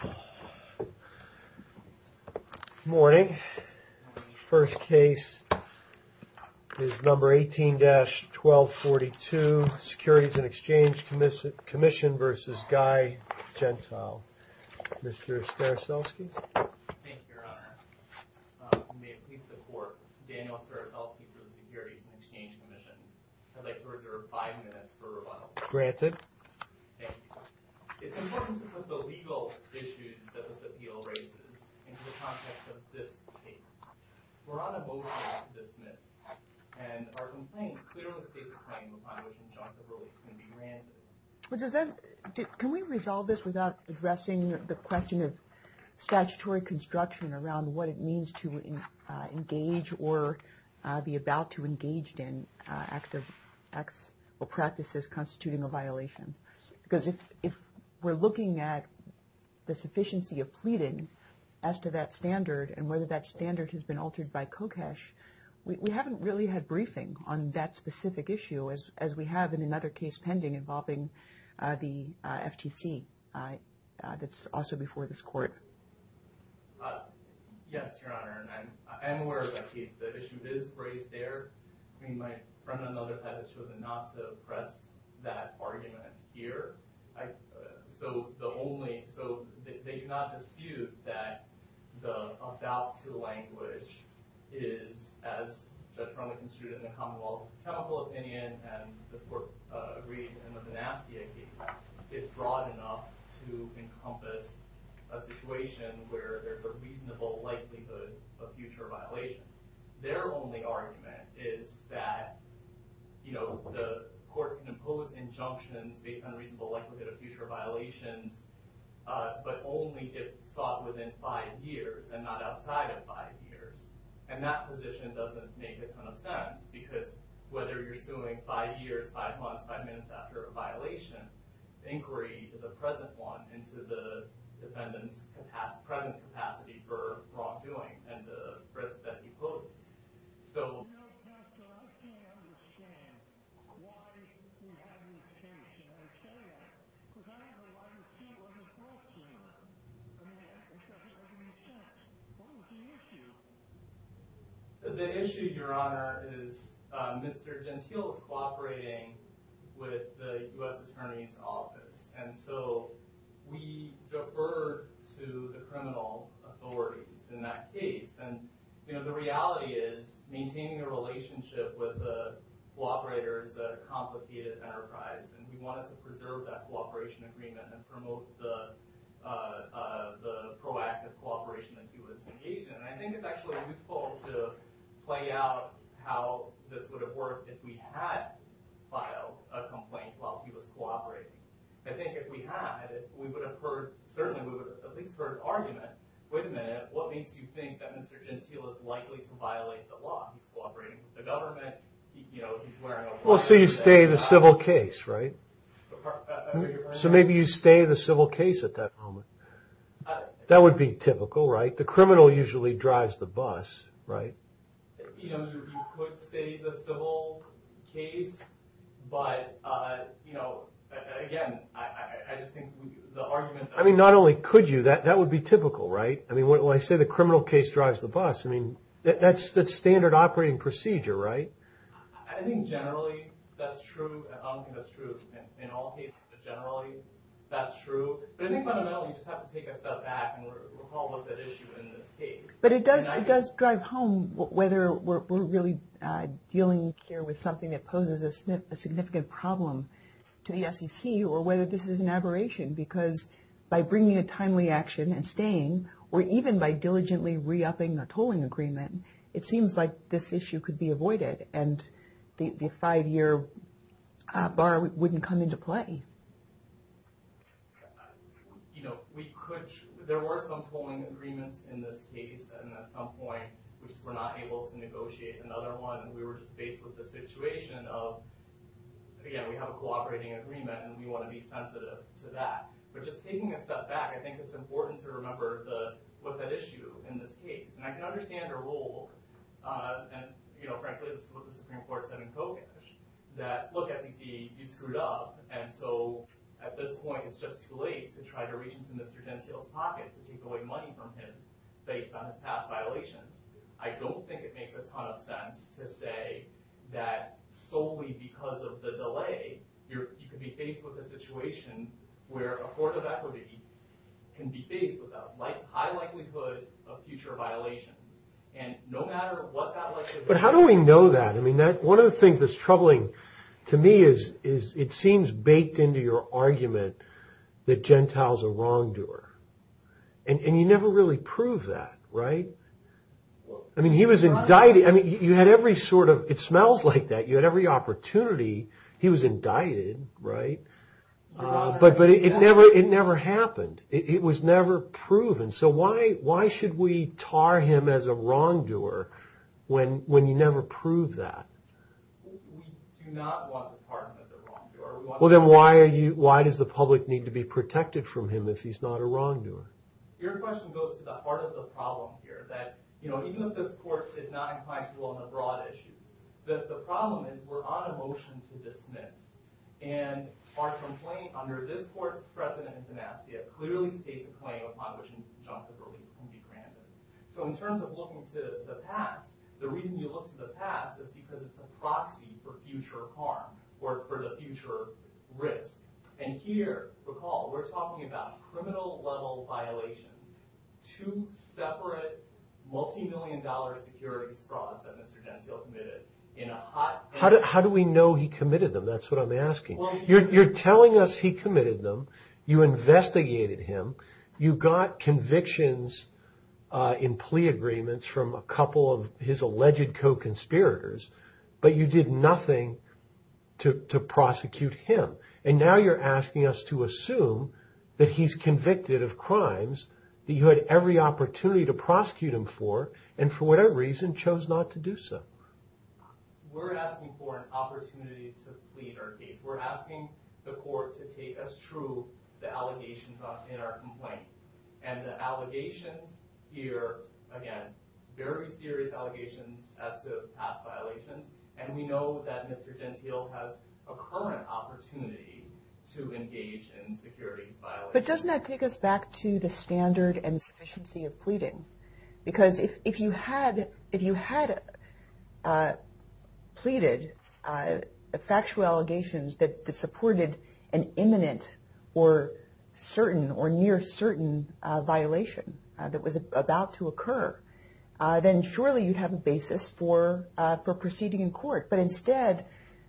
Good morning. The first case is number 18-1242, Securities and Exchange Commission v. Guy Gentile. Mr. Staroselsky? Thank you, Your Honor. You may please support Daniel Staroselsky for the Securities and Exchange Commission. I'd like to reserve five minutes for rebuttal. Granted. Thank you. Thank you. It's important to put the legal issues that this appeal raises into the context of this case. We're on a motion to dismiss and our complaint clearly states a claim upon which injunctive rules can be granted. Can we resolve this without addressing the question of statutory construction around what it means to engage or be about to engage in acts or practices constituting a violation? Because if we're looking at the sufficiency of pleading as to that standard and whether that standard has been altered by COCASH, we haven't really had briefing on that specific issue as we have in another case pending involving the FTC that's also before this Court. Yes, Your Honor. And I'm aware of that case. The issue is raised there. I mean, my friend on the other side has chosen not to press that argument here. So the only – so they do not dispute that the about-to language is, as the Truman Institute and the Commonwealth of Chemical Opinion and this Court agreed in the Benaski case, is broad enough to encompass a situation where there's a reasonable likelihood of future violation. Their only argument is that, you know, the Court can impose injunctions based on reasonable likelihood of future violations, but only if sought within five years and not outside of five years. And that position doesn't make a ton of sense because whether you're suing five years, five months, five minutes after a violation, inquiry is a present one into the defendant's present capacity for wrongdoing and the risk that he poses. You know, Pastor, I can't understand why you have this case. And I'll tell you, because I don't know why this case wasn't brought to me. I mean, it doesn't make any sense. What was the issue? The issue is maintaining a relationship with a cooperator is a complicated enterprise, and we wanted to preserve that cooperation agreement and promote the proactive cooperation that he was engaged in. And I think it's actually useful to play out how this would have worked if we had filed a complaint while he was cooperating. I think if we had, we would have heard, certainly we would have at least heard arguments. Wait a minute, what makes you think that Mr. Gentile is likely to violate the law? He's cooperating with the government, you know, he's wearing a... Well, so you stay the civil case, right? So maybe you stay the civil case at that moment. That would be typical, right? The criminal usually drives the bus, right? You know, you could stay the civil case, but, you know, again, I just think the argument... I mean, not only could you, that would be typical, right? I mean, when I say the criminal case drives the bus, I mean, that's the standard operating procedure, right? I think generally that's true, and I don't think that's true in all cases, but generally that's true. But I think fundamentally you just have to take a step back and recall what the issue is in this case. But it does drive home whether we're really dealing here with something that poses a significant problem to the SEC, or whether this is an aberration. Because by bringing a timely action and staying, or even by diligently re-upping the tolling agreement, it seems like this issue could be avoided, and the five-year bar wouldn't come into play. You know, there were some tolling agreements in this case, and at some point we just were not able to negotiate another one, and we were just faced with the situation of, again, we have a cooperating agreement, and we want to be sensitive to that. But just taking a step back, I think it's important to remember what that issue is in this case. And I can understand her role, and frankly this is what the Supreme Court said in Kogash, that look, SEC, you screwed up, and so at this point it's just too late to try to reach into Mr. Gentile's pocket to take away money from him based on his past violations. I don't think it makes a ton of sense to say that solely because of the delay, you could be faced with a situation where a court of equity can be faced with a high likelihood of future violations. And no matter what that likelihood is... I mean, he was indicted, I mean, you had every sort of, it smells like that, you had every opportunity, he was indicted, right? But it never happened, it was never proven, so why should we tar him as a wrongdoer when you never proved that? We do not want to tar him as a wrongdoer. Well then why does the public need to be protected from him if he's not a wrongdoer? Your question goes to the heart of the problem here, that even if this court did not incite people on the broad issue, that the problem is we're on a motion to dismiss. And our complaint under this court's precedent in financia clearly states a claim upon which an injunctive release can be granted. So in terms of looking to the past, the reason you look to the past is because it's a proxy for future harm, or for the future risk. And here, recall, we're talking about criminal level violations, two separate multi-million dollar securities frauds that Mr. Gentile committed in a hot... How do we know he committed them? That's what I'm asking. You're telling us he committed them, you investigated him, you got convictions in plea agreements from a couple of his alleged co-conspirators, but you did nothing to prosecute him. And now you're asking us to assume that he's convicted of crimes that you had every opportunity to prosecute him for, and for whatever reason chose not to do so. We're asking for an opportunity to plead our case. We're asking the court to take as true the allegations in our complaint. And the allegations here, again, very serious allegations as to past violations. And we know that Mr. Gentile has a current opportunity to engage in securities violations. But doesn't that take us back to the standard and sufficiency of pleading? Because if you had pleaded factual allegations that supported an imminent, or certain, or near certain violation that was about to occur, then surely you'd have a basis for proceeding in court. But instead,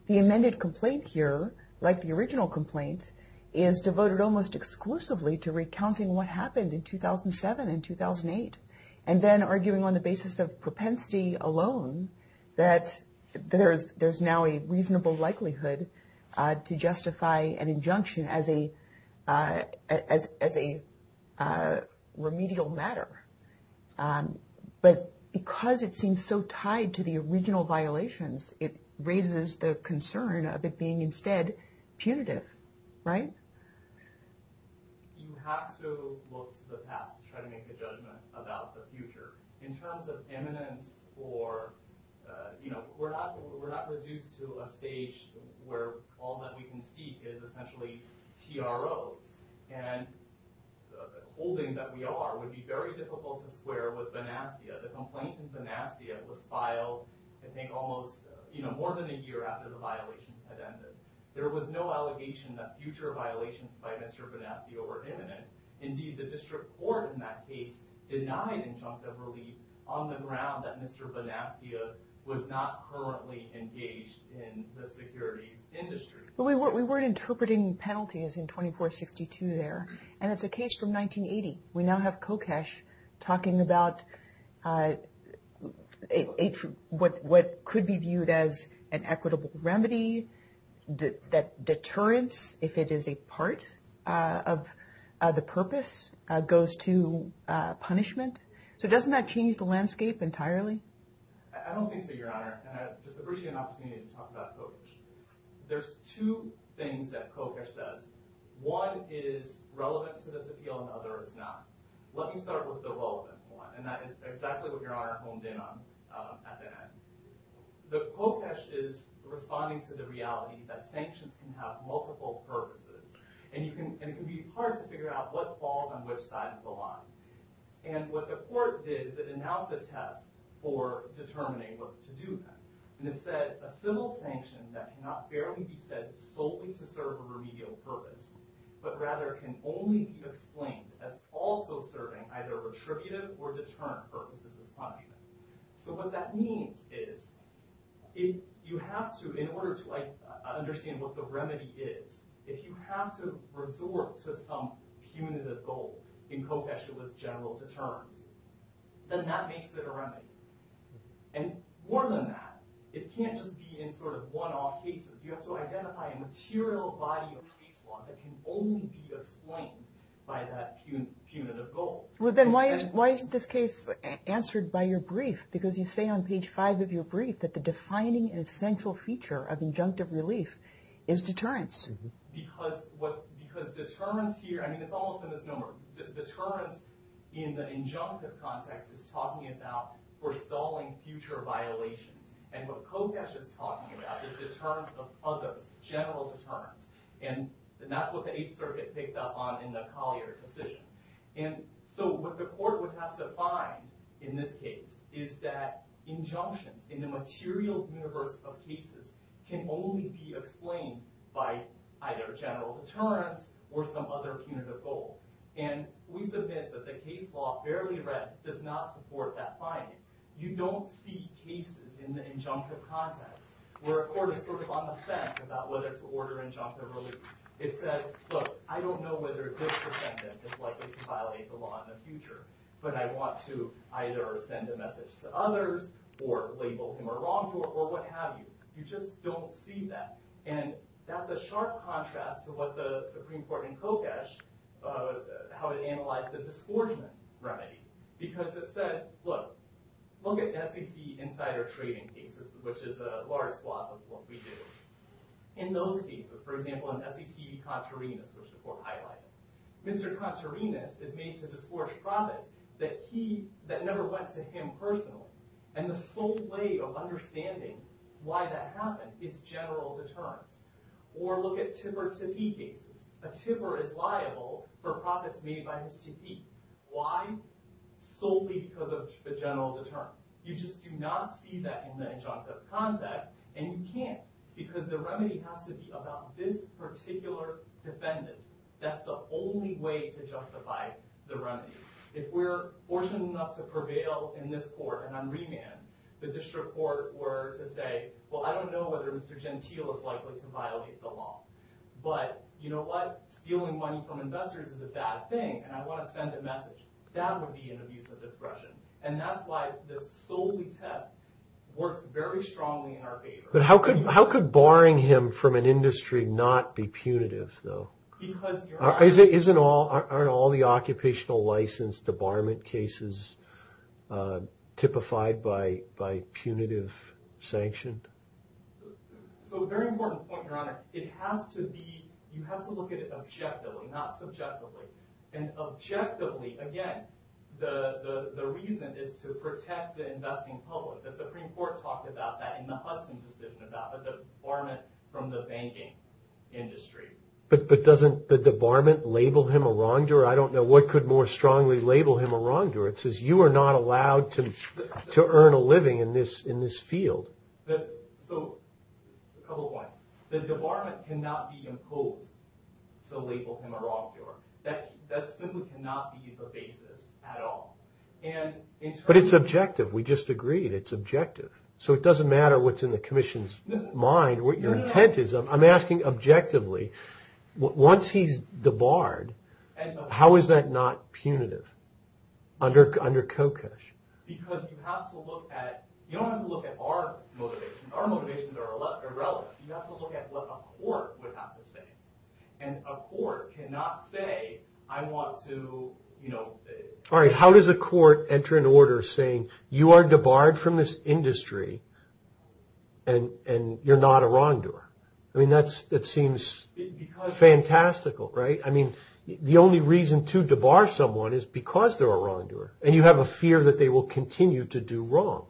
the amended complaint here, like the original complaint, is devoted almost exclusively to recounting what happened in 2007 and 2008. And then arguing on the basis of propensity alone that there's now a reasonable likelihood to justify an injunction as a remedial matter. But because it seems so tied to the original violations, it raises the concern of it being instead punitive, right? You have to look to the past to try to make a judgment about the future. In terms of imminence, we're not reduced to a stage where all that we can see is essentially TROs. And the holding that we are would be very difficult to square with Banastia. The complaint in Banastia was filed, I think, more than a year after the violations had ended. There was no allegation that future violations by Mr. Banastia were imminent. Indeed, the district court in that case denied injunctive relief on the ground that Mr. Banastia was not currently engaged in the securities industry. We weren't interpreting penalties in 2462 there, and it's a case from 1980. We now have Kokesh talking about what could be viewed as an equitable remedy, that deterrence, if it is a part of the purpose, goes to punishment. So doesn't that change the landscape entirely? I don't think so, Your Honor. And I just appreciate an opportunity to talk about Kokesh. There's two things that Kokesh says. One is relevant to this appeal, and the other is not. Let me start with the relevant one, and that is exactly what Your Honor honed in on at the end. The Kokesh is responding to the reality that sanctions can have multiple purposes, and it can be hard to figure out what falls on which side of the line. And what the court did is it announced a test for determining what to do then. And it said, a civil sanction that cannot fairly be said solely to serve a remedial purpose, but rather can only be explained as also serving either retributive or deterrent purposes as punishment. So what that means is, in order to understand what the remedy is, if you have to resort to some punitive goal in Kokesh's general deterrence, then that makes it a remedy. And more than that, it can't just be in sort of one-off cases. You have to identify a material body of case law that can only be explained by that punitive goal. Well, then why isn't this case answered by your brief? Because you say on page five of your brief that the defining and essential feature of injunctive relief is deterrence. Because deterrence here, I mean, it's all up in this number. Deterrence in the injunctive context is talking about forestalling future violations. And what Kokesh is talking about is deterrence of other general deterrence. And that's what the Eighth Circuit picked up on in the Collier decision. And so what the court would have to find in this case is that injunctions in the material universe of cases can only be explained by either general deterrence or some other punitive goal. And we submit that the case law, barely read, does not support that finding. You don't see cases in the injunctive context where a court is sort of on the fence about whether to order injunctive relief. It says, look, I don't know whether this defendant is likely to violate the law in the future. But I want to either send a message to others or label him a wrongdoer or what have you. You just don't see that. And that's a sharp contrast to what the Supreme Court in Kokesh, how it analyzed the disgorgement remedy. Because it said, look, look at SEC insider trading cases, which is a large swath of what we do. In those cases, for example, in SEC Contarinas, which the court highlighted. Mr. Contarinas is made to disgorge profits that never went to him personally. And the sole way of understanding why that happened is general deterrence. Or look at Tipper-Tippee cases. A tipper is liable for profits made by his tippee. Why? Solely because of the general deterrence. You just do not see that in the injunctive context. And you can't. Because the remedy has to be about this particular defendant. That's the only way to justify the remedy. If we're fortunate enough to prevail in this court and on remand, the district court were to say, well, I don't know whether Mr. Gentile is likely to violate the law. But you know what? Stealing money from investors is a bad thing. And I want to send a message. That would be an abuse of discretion. And that's why this solely test works very strongly in our favor. But how could barring him from an industry not be punitive, though? Aren't all the occupational license debarment cases typified by punitive sanction? So a very important point, Your Honor. It has to be, you have to look at it objectively, not subjectively. And objectively, again, the reason is to protect the investing public. The Supreme Court talked about that in the Hudson decision about the debarment from the banking industry. But doesn't the debarment label him a wrongdoer? I don't know what could more strongly label him a wrongdoer. It says you are not allowed to earn a living in this field. So a couple points. The debarment cannot be imposed to label him a wrongdoer. That simply cannot be the basis at all. But it's objective. We just agreed it's objective. So it doesn't matter what's in the commission's mind, what your intent is. I'm asking objectively. Once he's debarred, how is that not punitive under Kokush? Because you have to look at, you don't have to look at our motivations. Our motivations are irrelevant. You have to look at what a court would have to say. And a court cannot say I want to, you know. All right. How does a court enter into order saying you are debarred from this industry and you're not a wrongdoer? I mean, that's that seems fantastical. Right. I mean, the only reason to debar someone is because they're a wrongdoer. And you have a fear that they will continue to do wrong.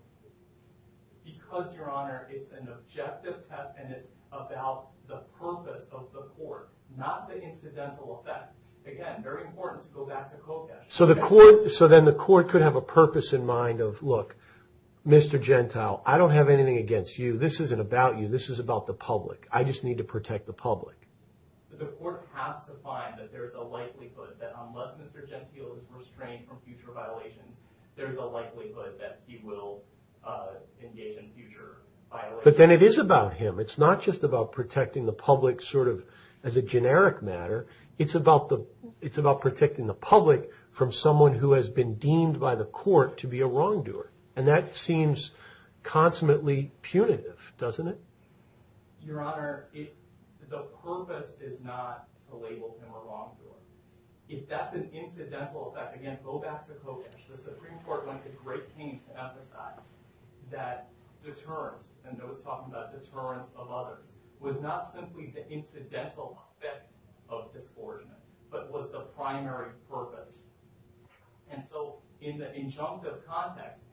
Because, Your Honor, it's an objective test and it's about the purpose of the court, not the incidental effect. Again, very important to go back to Kokush. So the court, so then the court could have a purpose in mind of, look, Mr. Gentile, I don't have anything against you. This isn't about you. This is about the public. I just need to protect the public. The court has to find that there is a likelihood that unless Mr. Gentile is restrained from future violations, there is a likelihood that he will engage in future violations. But then it is about him. It's not just about protecting the public sort of as a generic matter. It's about the it's about protecting the public from someone who has been deemed by the court to be a wrongdoer. And that seems consummately punitive, doesn't it? Your Honor, the purpose is not to label him a wrongdoer. If that's an incidental effect, again, go back to Kokush. The Supreme Court went to great pains to emphasize that deterrence, and I was talking about deterrence of others, was not simply the incidental effect of this forgery, but was the primary purpose. And so in the injunctive context,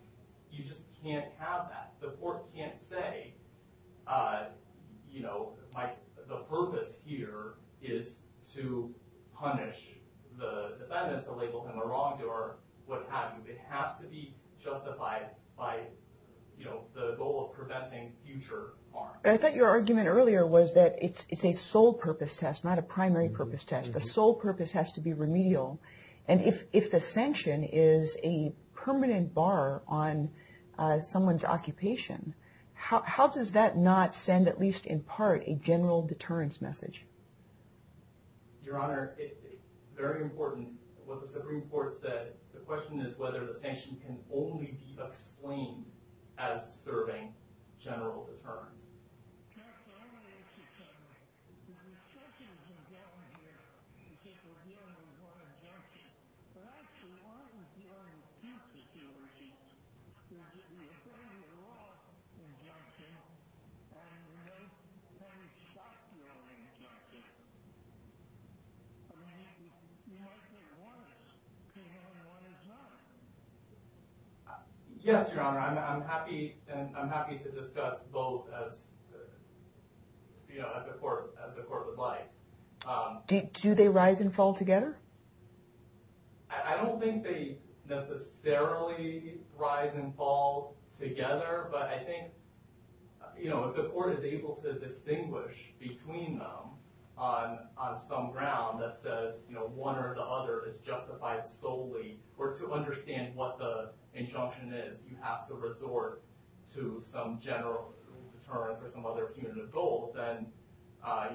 you just can't have that. The court can't say, you know, the purpose here is to punish the defendant, to label him a wrongdoer, what have you. It has to be justified by, you know, the goal of preventing future harm. I thought your argument earlier was that it's a sole purpose test, not a primary purpose test. The sole purpose has to be remedial. And if the sanction is a permanent bar on someone's occupation, how does that not send, at least in part, a general deterrence message? Your Honor, it's very important what the Supreme Court said. The question is whether the sanction can only be explained as serving general deterrence. Counsel, I want to ask you something. Now, there's so many things going on here because we're dealing with one injunctive. But actually, one of the things that we're dealing with is that you're serving a wrong injunctive, and we're not trying to stop the wrong injunctive. I mean, you might say one is, but the other one is not. Yes, Your Honor. I'm happy to discuss both as the court would like. Do they rise and fall together? I don't think they necessarily rise and fall together. But I think if the court is able to distinguish between them on some ground that says one or the other is justified solely, or to understand what the injunction is, you have to resort to some general deterrence or some other punitive goal, then I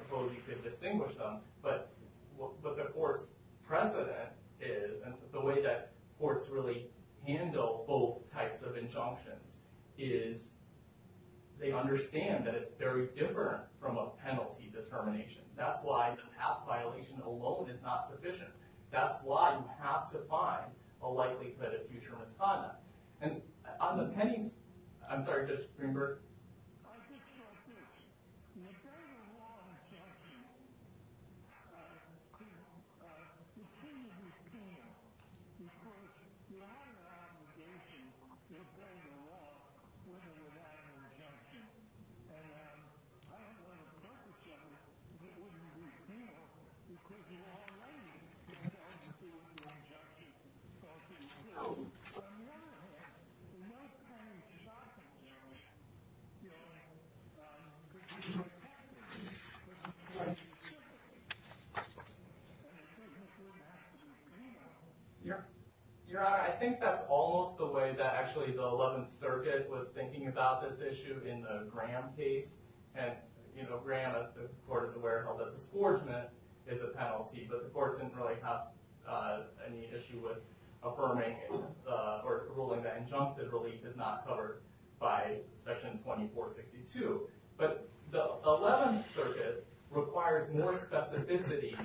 suppose you could distinguish them. But what the court's precedent is, and the way that courts really handle both types of injunctions, is they understand that it's very different from a penalty determination. That's why the path violation alone is not sufficient. That's why you have to find a likelihood of future misconduct. On the penance, I'm sorry, Judge Greenberg. I just want to say this. You're serving a wrong injunctive. You seem to be penal because you have an obligation to obey the law when you're delivering an injunction. And I don't want to purpose-judge that you wouldn't be penal because you're already doing injunctions. But on the other hand, the most common shock of the injury, if you're dealing with a victim of a crime, you're dealing with a victim of a criminal offense. Your Honor, I think that's almost the way that actually the 11th Circuit was thinking about this issue in the Graham case. And, you know, Graham, as the court is aware, held that the scorchment is a penalty, but the court didn't really have any issue with affirming or ruling that injunctive relief is not covered by Section 2462. But the 11th Circuit requires more specificity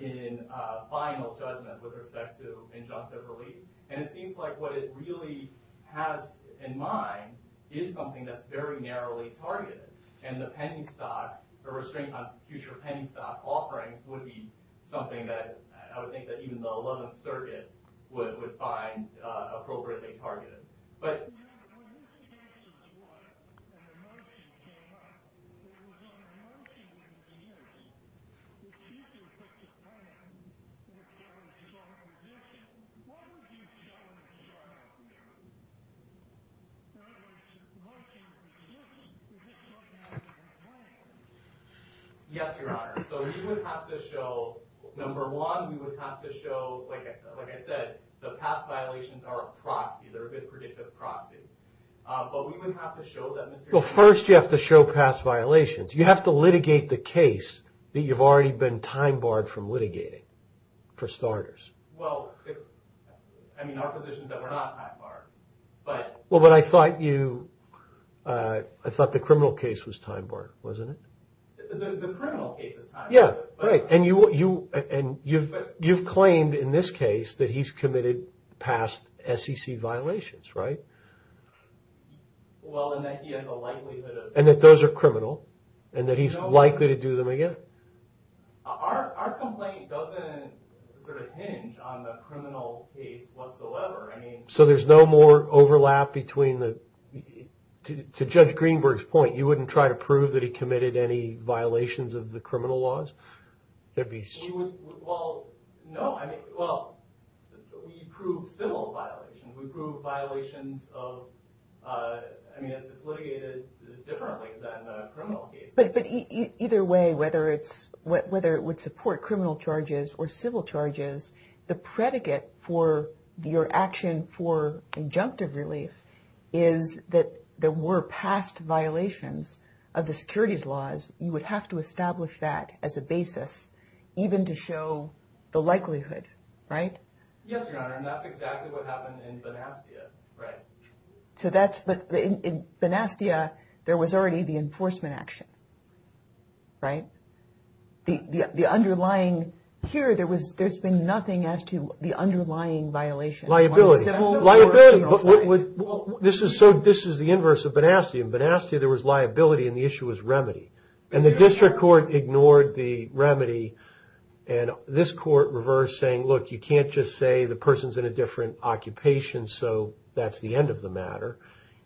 in final judgment with respect to injunctive relief. And it seems like what it really has in mind is something that's very narrowly targeted. And the pending stock, the restraint on future pending stock offerings, would be something that I would think that even the 11th Circuit would find appropriately targeted. But... Yes, Your Honor. So we would have to show, number one, we would have to show, like I said, the past violations are a proxy, they're a bit predictive proxies. But we would have to show that material... Well, first you have to show past violations. You have to litigate the case that you've already been time-barred from litigating, for starters. Well, I mean, our position is that we're not time-barred, but... Well, but I thought you, I thought the criminal case was time-barred, wasn't it? The criminal case is time-barred. Yeah, right. And you've claimed in this case that he's committed past SEC violations, right? Well, and that he has a likelihood of... And that those are criminal, and that he's likely to do them again. Our complaint doesn't sort of hinge on the criminal case whatsoever. I mean... So there's no more overlap between the... To Judge Greenberg's point, you wouldn't try to prove that he committed any violations of the criminal laws? There'd be... Well, no, I mean, well, we prove civil violations. We prove violations of... I mean, it's litigated differently than a criminal case. But either way, whether it's, whether it would support criminal charges or civil charges, the predicate for your action for injunctive relief is that there were past violations of the securities laws. You would have to establish that as a basis, even to show the likelihood, right? Yes, Your Honor, and that's exactly what happened in Benastia, right? So that's... But in Benastia, there was already the enforcement action, right? The underlying... Here, there's been nothing as to the underlying violation. Liability. Liability. This is so... This is the inverse of Benastia. In Benastia, there was liability, and the issue was remedy. And the district court ignored the remedy, and this court reversed, saying, look, you can't just say the person's in a different occupation, so that's the end of the matter.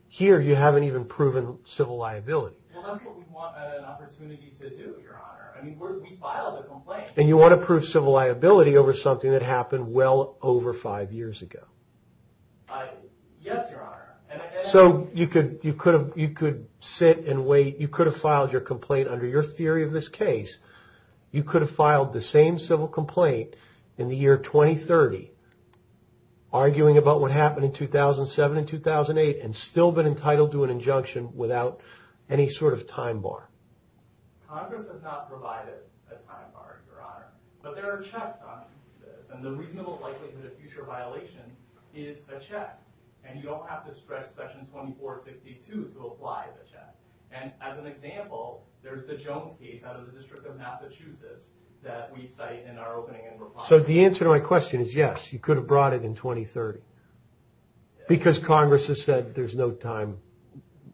Here, you haven't even proven civil liability. Well, that's what we want an opportunity to do, Your Honor. I mean, we filed a complaint. And you want to prove civil liability over something that happened well over five years ago. Yes, Your Honor. So you could sit and wait. You could have filed your complaint under your theory of this case. You could have filed the same civil complaint in the year 2030, arguing about what happened in 2007 and 2008, and still been entitled to an injunction without any sort of time bar. Congress has not provided a time bar, Your Honor. But there are checks on this, and the reasonable likelihood of future violation is a check. And you don't have to stretch Section 2462 to apply the check. And as an example, there's the Jones case out of the District of Massachusetts that we cite in our opening and reply. So the answer to my question is yes, you could have brought it in 2030. Because Congress has said there's no time.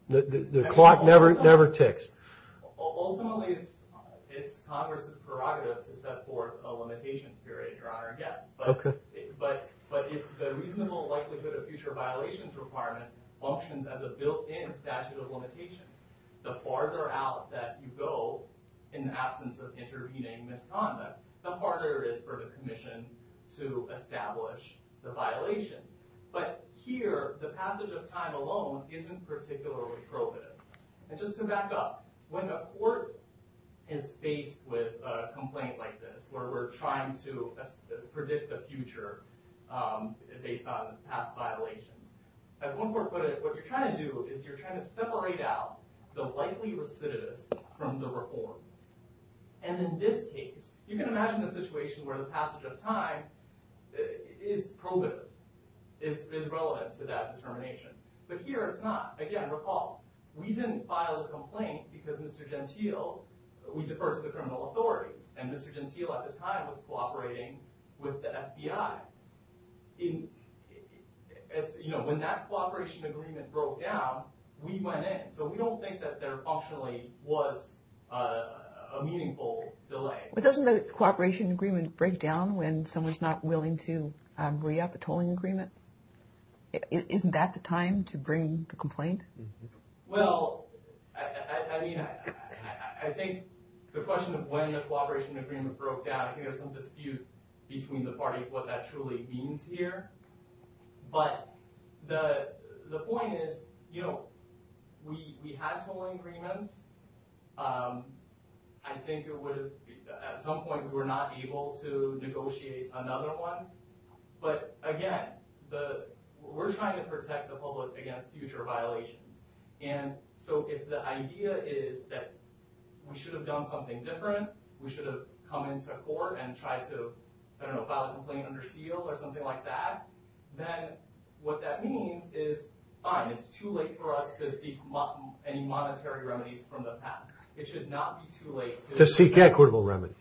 The clock never ticks. Ultimately, it's Congress's prerogative to set forth a limitation period, Your Honor. But if the reasonable likelihood of future violations requirement functions as a built-in statute of limitations, the farther out that you go in the absence of intervening misconduct, the harder it is for the commission to establish the violation. But here, the passage of time alone isn't particularly probative. And just to back up, when a court is faced with a complaint like this, where we're trying to predict the future based on past violations, as one court put it, what you're trying to do is you're trying to separate out the likely recidivists from the reformed. And in this case, you can imagine the situation where the passage of time is probative, is relevant to that determination. But here, it's not. Again, recall, we didn't file a complaint because Mr. Gentile, we defer to the criminal authorities, and Mr. Gentile at the time was cooperating with the FBI. When that cooperation agreement broke down, we went in. So we don't think that there functionally was a meaningful delay. But doesn't the cooperation agreement break down when someone's not willing to re-opt a tolling agreement? Isn't that the time to bring the complaint? Well, I think the question of when the cooperation agreement broke down, I think there's some dispute between the parties what that truly means here. But the point is, you know, we had tolling agreements. I think at some point we were not able to negotiate another one. But, again, we're trying to protect the public against future violations. And so if the idea is that we should have done something different, we should have come into court and tried to, I don't know, file a complaint under seal or something like that, then what that means is, fine, it's too late for us to seek any monetary remedies from the past. It should not be too late to seek equitable remedies.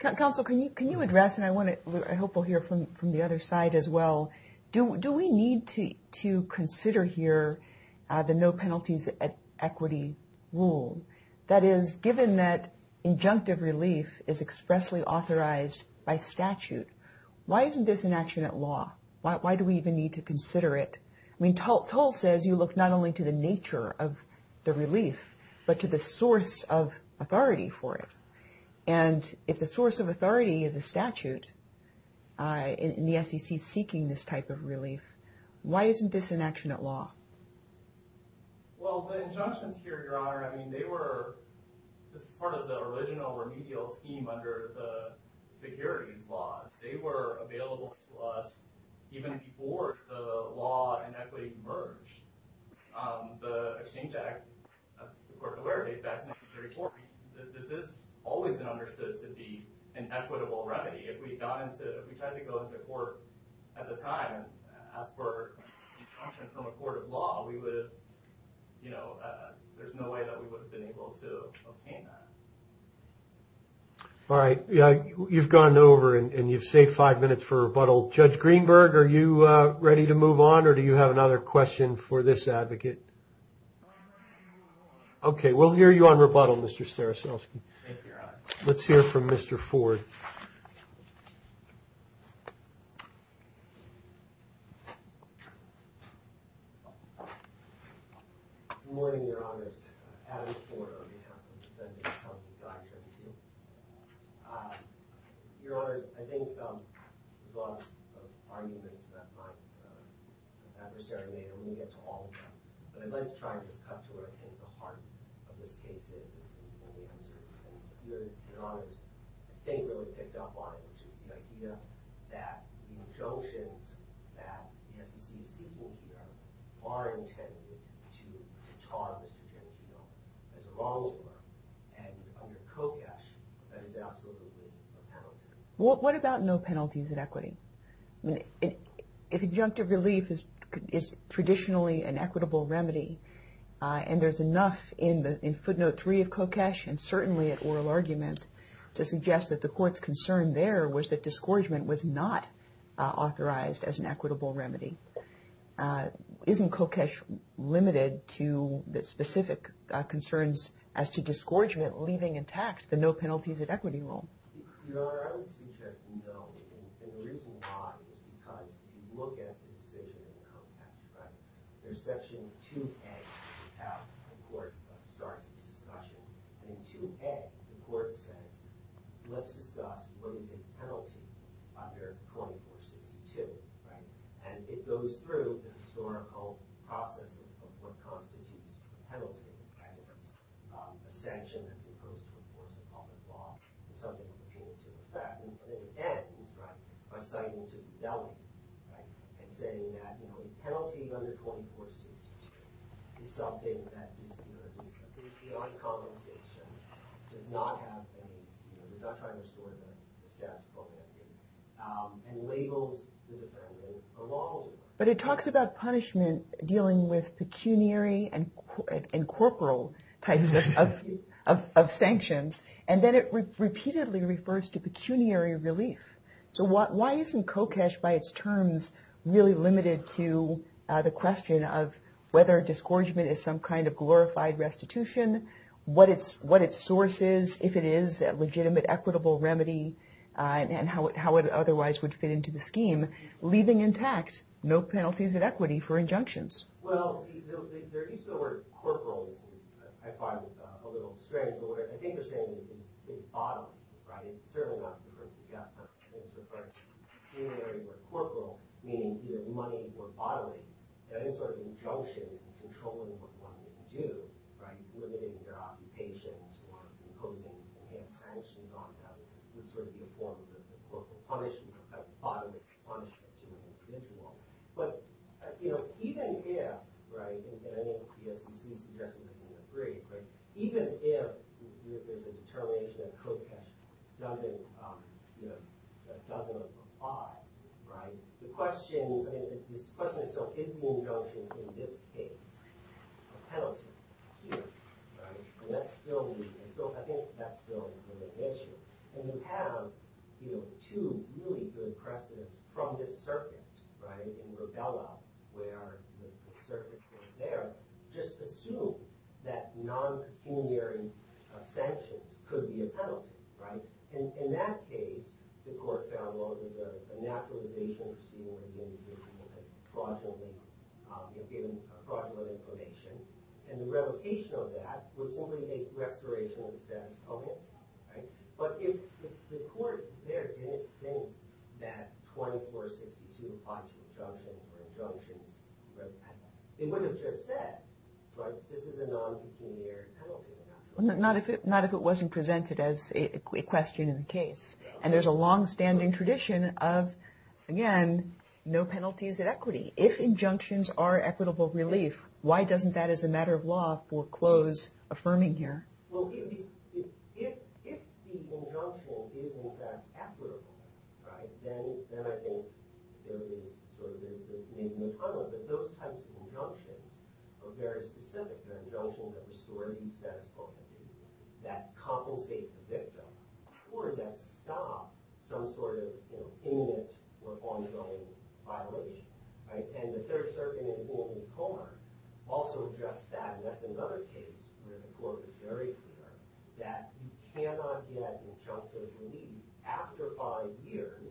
Counsel, can you address, and I hope we'll hear from the other side as well, do we need to consider here the no penalties equity rule? That is, given that injunctive relief is expressly authorized by statute, why isn't this an action at law? Why do we even need to consider it? I mean, toll says you look not only to the nature of the relief, but to the source of authority for it. And if the source of authority is a statute, and the SEC is seeking this type of relief, why isn't this an action at law? Well, the injunctions here, Your Honor, I mean, they were, this is part of the original remedial scheme under the securities laws. They were available to us even before the law and equity emerged. The Exchange Act, the Court of Awareness back in 1934, this has always been understood to be an equitable remedy. If we got into, if we tried to go into court at the time and ask for instructions from a court of law, we would have, you know, there's no way that we would have been able to obtain that. All right. You've gone over and you've saved five minutes for rebuttal. Judge Greenberg, are you ready to move on, or do you have another question for this advocate? Okay. We'll hear you on rebuttal, Mr. Staroselsky. Let's hear from Mr. Ford. What about no penalties in equity? If injunctive relief is traditionally an equitable remedy and there's enough in footnote three of COCESH and certainly at oral argument to suggest that the court's concern there was that disgorgement was not authorized as an equitable remedy, isn't COCESH limited to the specific concerns as to disgorgement leaving intact the no penalties in equity rule? Your Honor, I would suggest we don't. And the reason why is because if you look at the decision in context, right, there's section 2A that the court starts this discussion. And in 2A, the court says, let's discuss what is a penalty under 2462, right? And it goes through the historical process of what constitutes a penalty, kind of a sanction that we put before the public law, and something that continues to affect. And it ends, right, by citing to the delegate, right, and saying that, you know, a penalty under 2462 is something that, you know, at least the API colonization does not have any, you know, does not try to restore the status quo remedy and labels independent belonging. But it talks about punishment dealing with pecuniary and corporal types of sanctions. And then it repeatedly refers to pecuniary relief. So why isn't COCESH by its terms really limited to the question of whether disgorgement is some kind of glorified restitution, what its source is, if it is a legitimate equitable remedy, and how it otherwise would fit into the scheme, leaving intact no penalties of equity for injunctions? Well, there is the word corporal, I find a little strange, but what I think they're saying is bottom, right? It's certainly not the first suggestion. It's referring to pecuniary or corporal, meaning either money or bodily, any sort of injunction controlling what one can do, right, which would be a form of corporal punishment, a kind of bottomless punishment to an individual. But, you know, even if, right, and I think the SEC suggested this in their brief, right, even if there's a determination that COCESH doesn't, you know, doesn't apply, right, the question, I mean, the question is, so is the injunction in this case a penalty? And that's still, I think that's still an issue. And we have, you know, two really good precedents from this circuit, right, in Rubella, where the circuit court there just assumed that non-pecuniary sanctions could be a penalty, right? In that case, the court found, well, there's a naturalization proceeding within the individual, a fraudulent information, and the revocation of that would simply make restoration of the statute public, right? But if the court there didn't think that 2462 applies to injunctions, it would have just said, right, this is a non-pecuniary penalty. Not if it wasn't presented as a question in the case. And there's a longstanding tradition of, again, no penalties at equity. If injunctions are equitable relief, why doesn't that, as a matter of law, foreclose affirming here? Well, if the injunction is in fact equitable, right, then I think there is, sort of, there's maybe a problem, but those types of injunctions are very specific. The injunction that restores the statute public, that compensates the victim, or that stops some sort of, you know, imminent or ongoing violation, right? And the Third Circuit, as well as the court, also addressed that. And that's another case where the court was very clear that you cannot get injunctive relief after five years,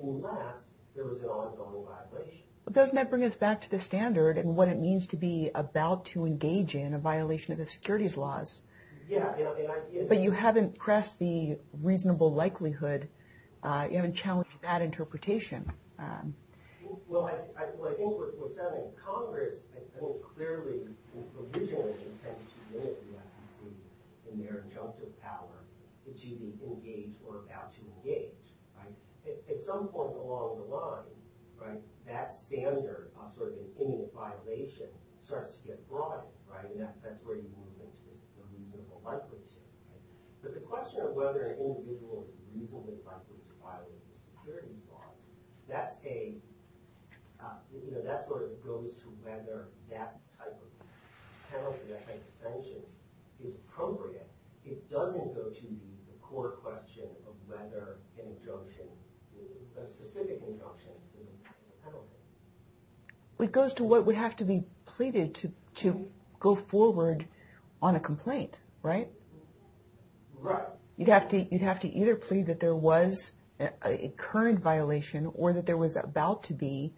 unless there was an ongoing violation. But doesn't that bring us back to the standard and what it means to be about to engage in a violation of the securities laws? Yeah. But you haven't pressed the reasonable likelihood, you haven't challenged that interpretation. Well, I think what's happening, Congress, I think, clearly, provisionally, tends to limit the amount of injunctive power that you can engage or about to engage, right? At some point along the line, right, that standard of, sort of, an imminent violation starts to get broad, right? And that's where you move into the reasonable likelihood. But the question of whether an individual is reasonably likely to violate the securities law, that's where it goes to whether that type of penalty, that type of sanction, is appropriate. It doesn't go to the court question of whether an injunction, a specific injunction is a penalty. It goes to what would have to be pleaded to go forward on a complaint, right? Right. You'd have to either plead that there was a current violation or that there was about to be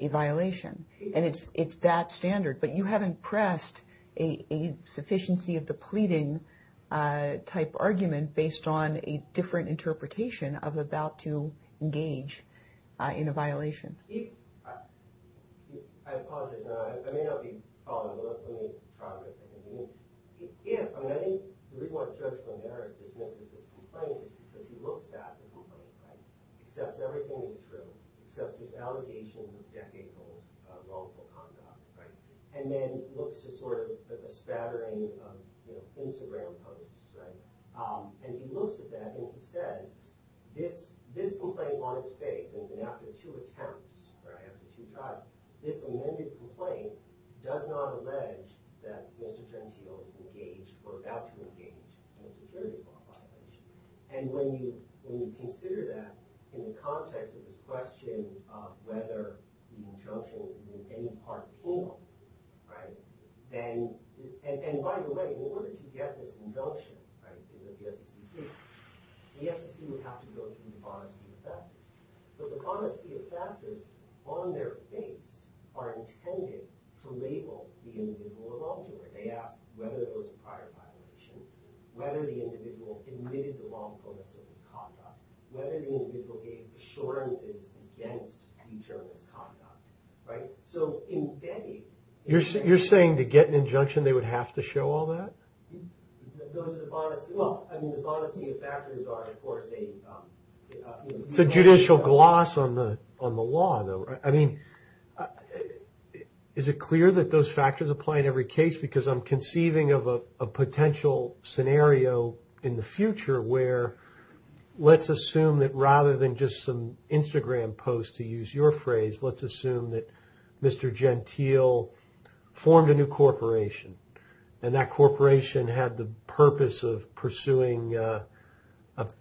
a violation. And it's that standard. But you haven't pressed a sufficiency of the pleading type argument based on a different interpretation of about to engage in a violation. I'll pause it now. I may not be following the rest of this process, but if, I mean, I think the reason why I'm judging Eric is because he looks at the complaint, right, accepts everything as true, accepts his allegations of decade-old wrongful conduct, right, and then looks at, sort of, a spattering of, you know, Instagram posts, right, and he looks at that and he says, this complaint on its face, and after two attempts, or after two trials, this amended complaint does not allege that Mr. Frensfield engaged or about to engage in a security violation. And when you consider that in the context of this question of whether the injunction is in any part of the form, right, then, and by the way, in order to get this injunction, right, to get the SEC, the SEC would have to go through the forestry effect. But the forestry effect is on their face are intended to label the individual involved in it. They ask whether there was a prior violation, whether the individual committed the wrongfulness of his conduct, whether the individual gave assurances against eternal conduct, right? So, in many... You're saying to get an injunction, they would have to show all that? Those are the bonus... Well, I mean, the bonus of factors are, of course, a... It's a judicial gloss on the law, though. I mean, is it clear that those factors apply in every case? Because I'm conceiving of a potential scenario in the future where let's assume that rather than just some Instagram post, to use your phrase, let's assume that Mr. Gentile formed a new corporation. And that corporation had the purpose of pursuing a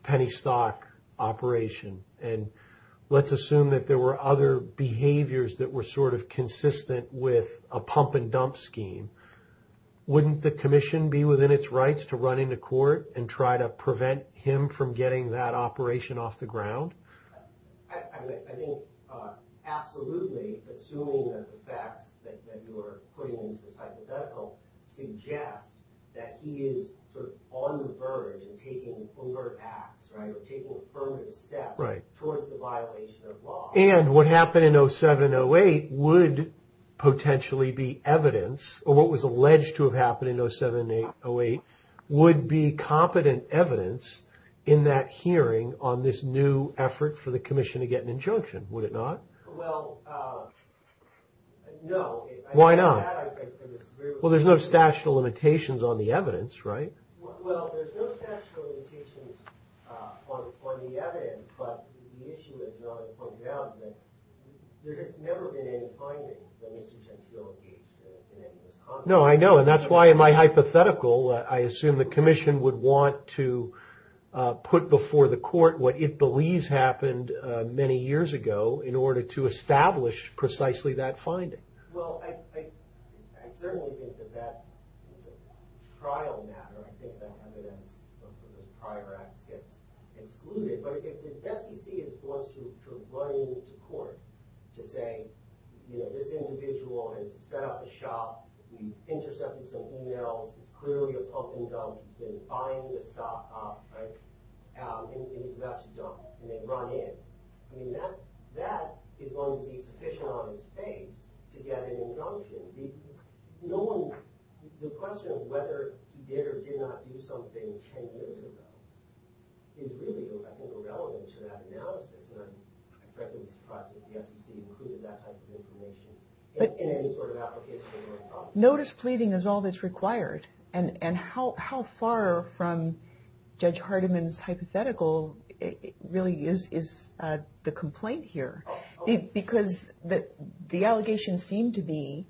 penny stock operation. And let's assume that there were other behaviors that were sort of consistent with a pump-and-dump scheme. Wouldn't the commission be within its rights to run into court and try to prevent him from getting that operation off the ground? I think absolutely, assuming that the facts that you are putting into this hypothetical suggest that he is on the verge of taking overt acts, right? Right. And what happened in 07-08 would potentially be evidence, or what was alleged to have happened in 07-08 would be competent evidence in that hearing on this new effort for the commission to get an injunction, would it not? Well, no. Why not? Well, there's no statute of limitations on the evidence, right? Well, there's no statute of limitations on the evidence, but the issue is not a pump-and-dump. There has never been any finding that Mr. Gentile is in any of this context. No, I know, and that's why in my hypothetical, I assume the commission would want to put before the court what it believes happened many years ago in order to establish precisely that finding. Well, I certainly think that that trial matter, I think that evidence of prior acts gets excluded, but if the FTC wants to run into court to say, you know, this individual has set up a shop, he's intercepted something else, it's clearly a pump-and-dump, he's been buying the stock off, right, and he's about to dump, and they run in, that is going to be sufficient on its face to get an injunction. The question of whether he did or did not do something 10 years ago is really, I think, irrelevant to that analysis, and I'm frankly surprised that the FTC included that type of information in any sort of application. Notice pleading is all that's required, and how far from Judge Hardiman's hypothetical really is the complaint here, because the allegations seem to be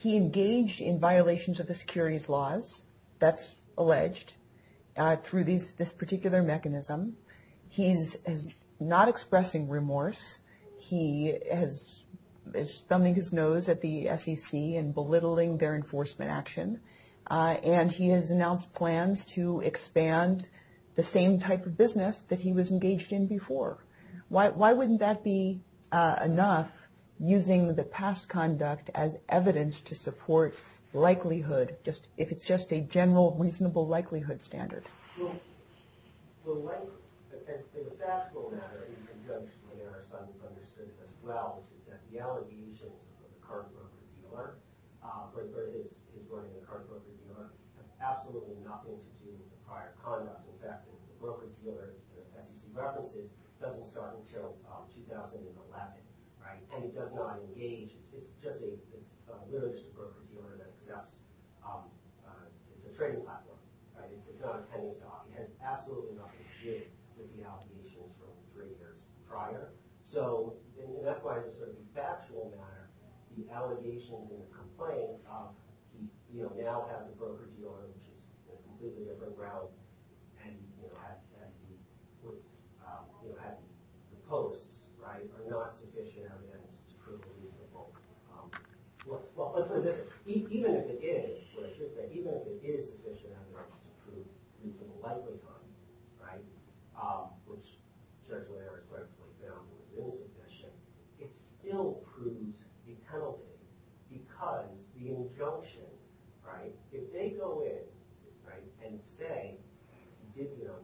he engaged in violations of the securities laws, that's alleged, through this particular mechanism. He's not expressing remorse. He is thumbing his nose at the SEC and belittling their enforcement action, and he has announced plans to expand the same type of business that he was engaged in before. Why wouldn't that be enough, using the past conduct as evidence to support likelihood, if it's just a general reasonable likelihood standard? Yes? Right, and it does not engage. It's just a limited broker-dealer that accepts. It's a trading platform, right? It's not a penny stock. It has absolutely nothing to do with the allegations from three years prior, so that's why, as a factual matter, the allegations in the complaint now have the broker-dealer, which is a completely different route, and the posts, right, are not sufficient evidence to prove reasonable likelihood. Even if it is, what I should say, even if it is sufficient evidence to prove reasonable likelihood, which, judge whatever court, for example, is in possession, it still proves the penalty, because the injunction, right, if they go in, right, and say, did them,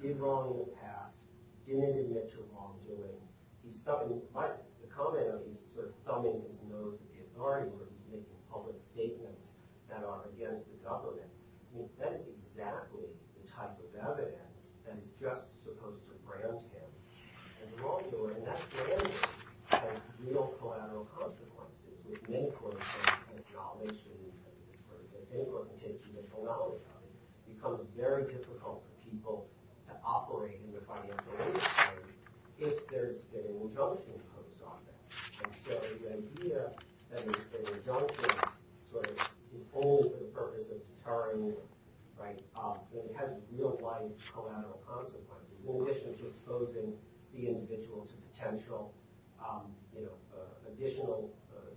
did wrong in the past, didn't admit to wrongdoing, the comment of these sort of summons in those authority groups making public statements that are against the government, that is exactly the type of evidence that is just supposed to preempt him as wrongdoer, and that preemption has real collateral consequences, which in many court cases, and I'll make sure that you've heard this in court, and take it to the collateral charges, becomes very difficult for people to operate in the financial legal community if there's an injunction imposed on them, and so the idea that an injunction sort of is only for the purpose of deterring them, right, then it has real-life collateral consequences in addition to exposing the individual to potential, you know, additional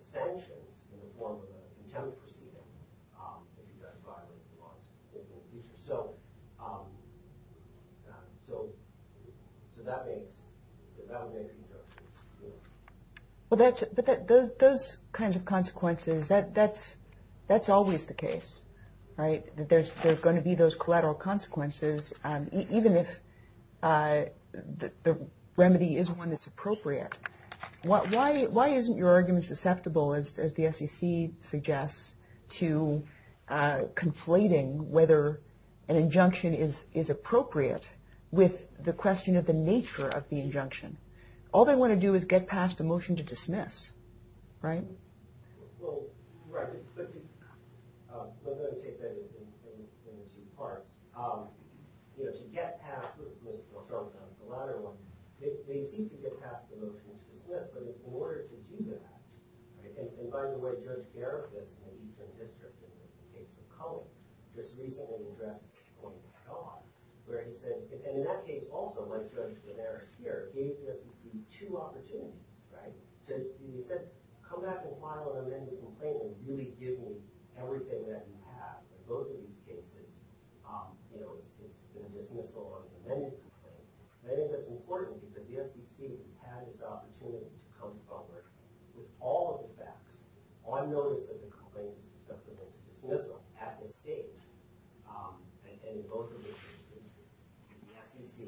sanctions in the form of an intended proceeding if you guys violate the law in the future, so that means the validation of, you know... But those kinds of consequences, that's always the case, right, that there's going to be those collateral consequences, even if the remedy is one that's appropriate. Why isn't your argument susceptible, as the SEC suggests, to conflating whether an injunction is appropriate with the question of the nature of the injunction? All they want to do is get past a motion to dismiss, right? Well, right, but to... We're going to take that into part. You know, to get past the motion to dismiss, but in order to do that, and by the way, Judge Garrick was in the Eastern District in the case of Cohen, just recently addressed Cohen at dawn, where he said, and in that case also, like Judge Gennaris here, gave him the two opportunities, right? He said, come back and file an amended complaint, and really give me everything that you have, in both of these cases, you know, the dismissal or the amended complaint, and I think that's important, because the SEC has the opportunity to come forward with all of the facts, on notice that the complaint is susceptible to dismissal, at this stage, and in both of these instances, the SEC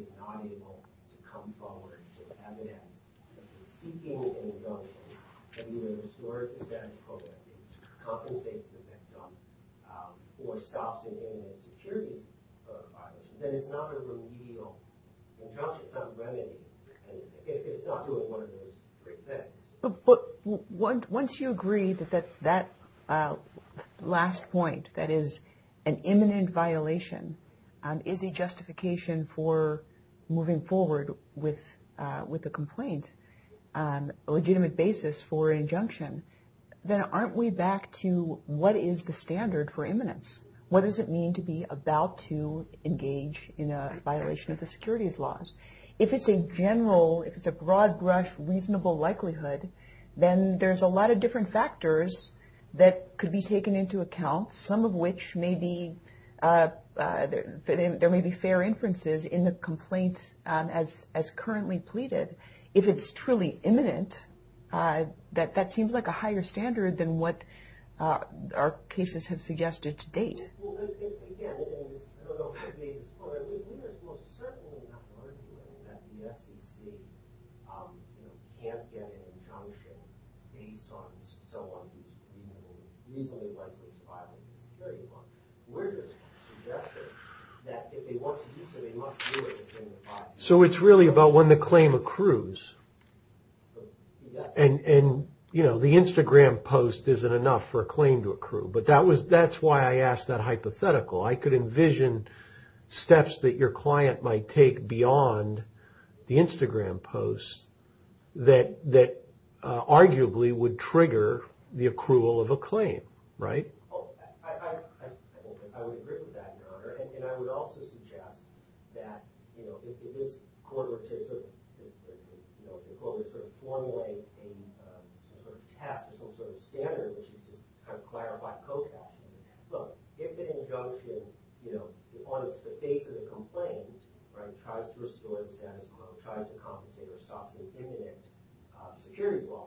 is not able to come forward to have it as a seeking injunction under the historic status quo, that it compensates the victim for stops in the Internet security provider, then it's not a remedial injunction, it's not remedial, and it's not doing one of those great things. But once you agree that that last point, that is an imminent violation, is a justification for moving forward with the complaint, a legitimate basis for injunction, then aren't we back to, what is the standard for imminence? What does it mean to be about to engage in a violation of the securities laws? If it's a general, if it's a broad brush reasonable likelihood, then there's a lot of different factors that could be taken into account, some of which may be, there may be fair inferences in the complaint, as currently pleaded, if it's truly imminent, that that seems like a higher standard than what our cases have suggested to date. So it's really about when the claim accrues, and the Instagram post isn't enough But that's why I asked that hypothetical. I could envision steps that your client might take beyond the Instagram post that arguably would trigger the accrual of a claim. Right? Oh, I would agree with that, Your Honor. And I would also suggest that, you know, if this court were to sort of, you know, if the court were to sort of formulate a sort of test, some sort of standard, which is this kind of clarified process, look, if an injunction, you know, on the face of the complaint, right, tries to restore the status quo, tries to compensate or stop the imminent securities law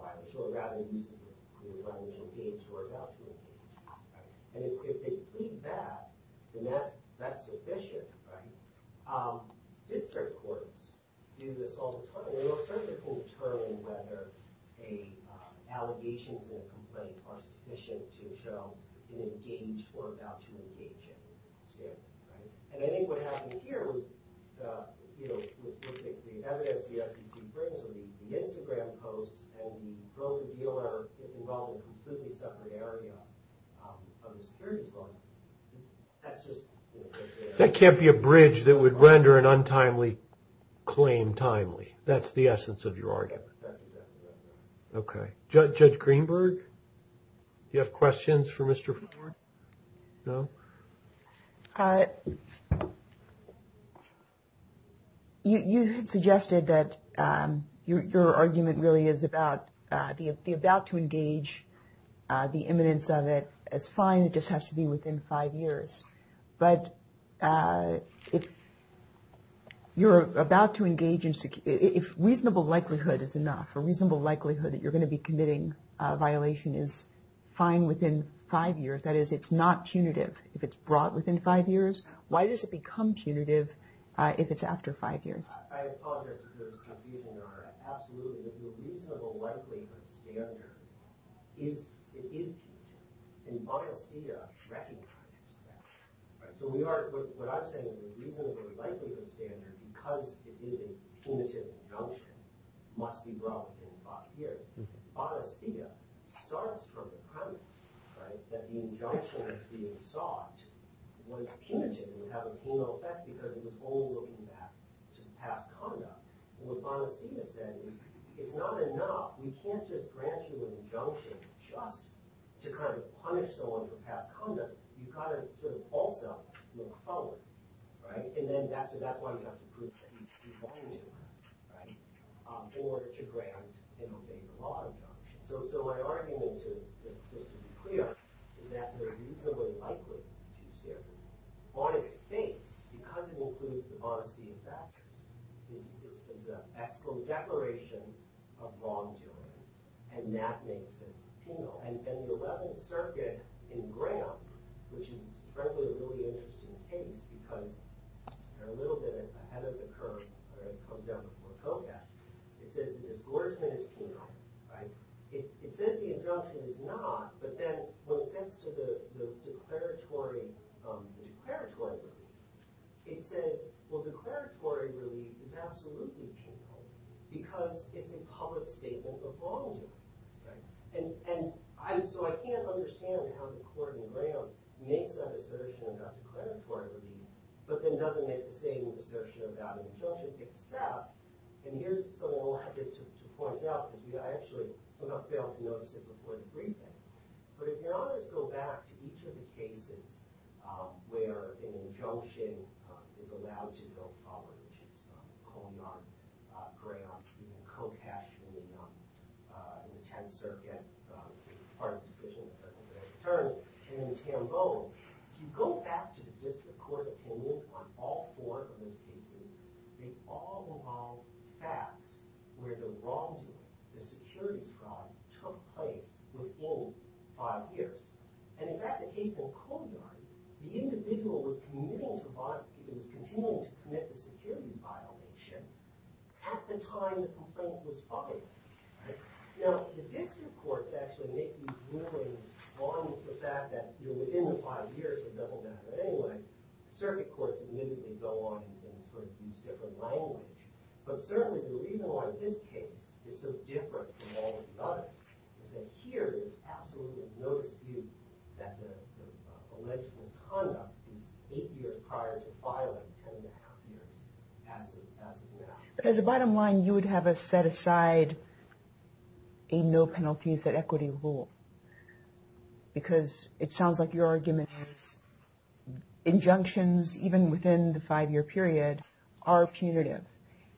violation, right, and if they plead that, then that's sufficient, right? District courts do this all the time. And I think what happened here was, you know, the evidence that you can bring to the Instagram post and you go to deal with a completely separate area of the securities law, that's just... That can't be a bridge that would render an untimely claim timely. That's the essence of your argument. Okay. Judge Greenberg, you have questions for Mr. Ford? No? Thank you. You had suggested that your argument really is about the about to engage, the imminence of it as fine. It just has to be within five years. But if you're about to engage in... If reasonable likelihood is enough, a reasonable likelihood that you're going to be committing a violation is fine within five years. That is, it's not punitive if it's brought within five years. Why does it become punitive if it's after five years? Okay. Reasonable likelihood. On its face, because it includes the modesty of factors, is the exclude declaration of wrongdoing. And that makes it penal. And the 11th Circuit in Graham, which is frankly a really interesting case because they're a little bit ahead of the curve when it comes down to Ford Kodak, it says that it's as glaringly as penal, right? It says the injunction is not, but then when it gets to the declaratory, the declaratory relief, it says, well, declaratory relief is absolutely penal because it's a public statement of wrongdoing. And so I can't understand how the court in Graham makes that assertion about declaratory relief, but then doesn't make the same assertion about injunctions, except, and here's someone who has it to point out, I actually did not fail to notice it before the briefing, but if you go back to each of the cases where an injunction is allowed to go forward, which is called on Graham to be a co-cash in the 10th Circuit as part of the decision of the secondary attorney, and in Tambo, if you go back to the District Court opinion on all four of those cases, they all involve facts where the wrongdoer, the security fraud, took place within five years. And in fact, the case in Coney Island, the individual was committing, he was continuing to commit the security violation at the time the complaint was filed. Now, the District Courts actually make these rulings on the fact that within the five years, it doesn't matter anyway, Circuit Courts admittedly go on and sort of use different language, but certainly the reason why this case is so different from all of the others is that here there's absolutely no dispute that the alleged conduct in eight years prior to filing ten and a half years has been allowed. But as a bottom line, you would have us set aside a no penalties at equity rule because it sounds like your argument is injunctions, even within the five year period, are punitive.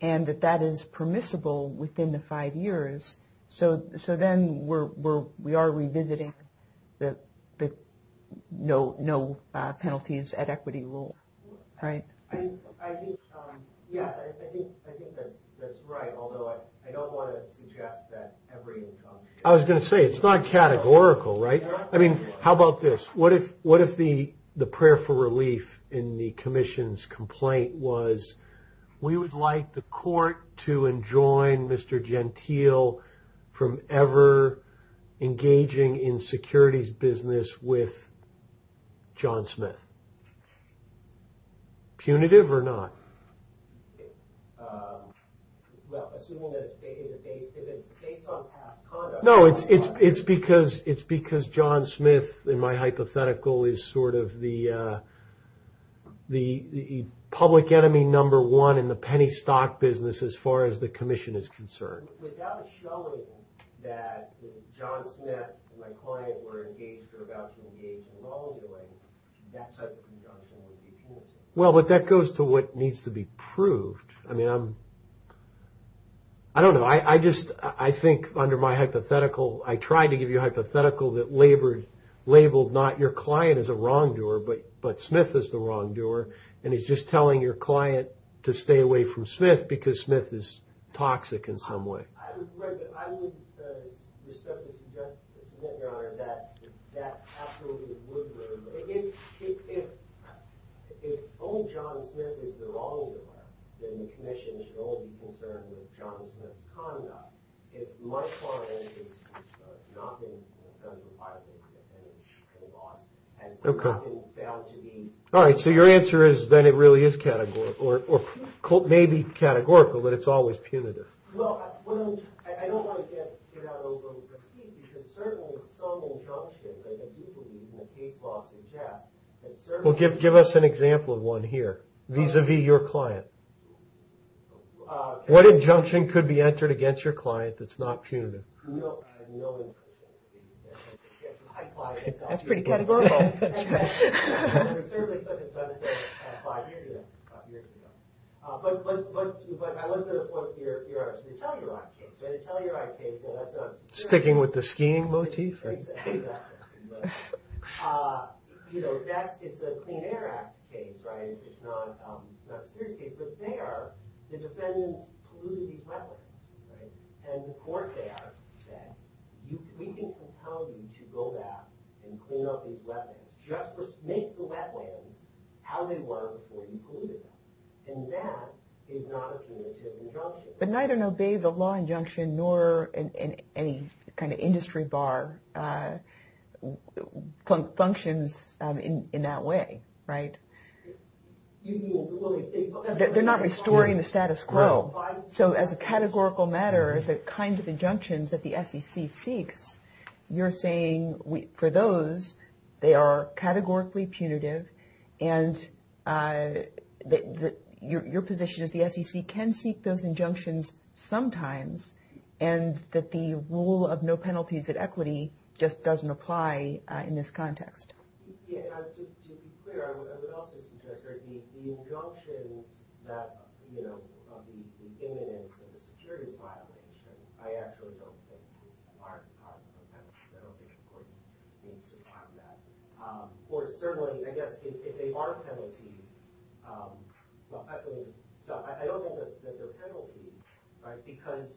And that that is permissible within the five years, so then we are revisiting the no penalties at equity rule. Right? I think that's right, although I don't want to suggest that every incumbent... I was going to say, it's not categorical, right? I mean, how about this? What if the prayer for relief in the Commission's complaint was we would like the court to enjoin Mr. Gentile from ever engaging in securities business with John Smith? Punitive or not? Assuming that it's based on past conduct... No, it's because John Smith, in my hypothetical, is sort of the public enemy number one in the penny stock business as far as the Commission is concerned. Without showing that if John Smith and my client were engaged or about to engage in long delay, that such conjunction would be punitive. Well, but that goes to what needs to be proved. I mean, I'm... I don't know. I just, I think under my hypothetical, I tried to give you a hypothetical that labeled not your client as a wrongdoer, but Smith as the wrongdoer, and is just telling your client to stay away from Smith because Smith is toxic in some way. I would respectfully suggest, Mr. Gentile, Your Honor, that that absolutely would work. If only John Smith is the wrongdoer, then the Commission should only be concerned with John Smith's conduct. My client has not been found to be... All right, so your answer is that it really is categorical, or maybe categorical, but it's always punitive. Well, I don't want to get out of the loop. Excuse me, because certainly some injunctions that people use in the case law suggest... Well, give us an example of one here vis-a-vis your client. What injunction could be entered against your client that's not punitive? That's pretty categorical. Sticking with the skiing motif? The defendant polluted these wetlands, right? And the court there said, we can compel you to go back and clean up these wetlands. Just make the wetlands how they were before you polluted them. And that is not a punitive injunction. But neither obey the law injunction, nor any kind of industry bar functions in that way, right? They're not restoring the status quo. So as a categorical matter, the kinds of injunctions that the SEC seeks, you're saying for those, they are categorically punitive, and your position is the SEC can seek those injunctions sometimes, and that the rule of no penalties at equity just doesn't apply in this context. The injunctions of the imminence of a security violation, I actually don't think are penalties. I don't think the court needs to file that. Or certainly, I guess, if they are penalties, I don't think that they're penalties, because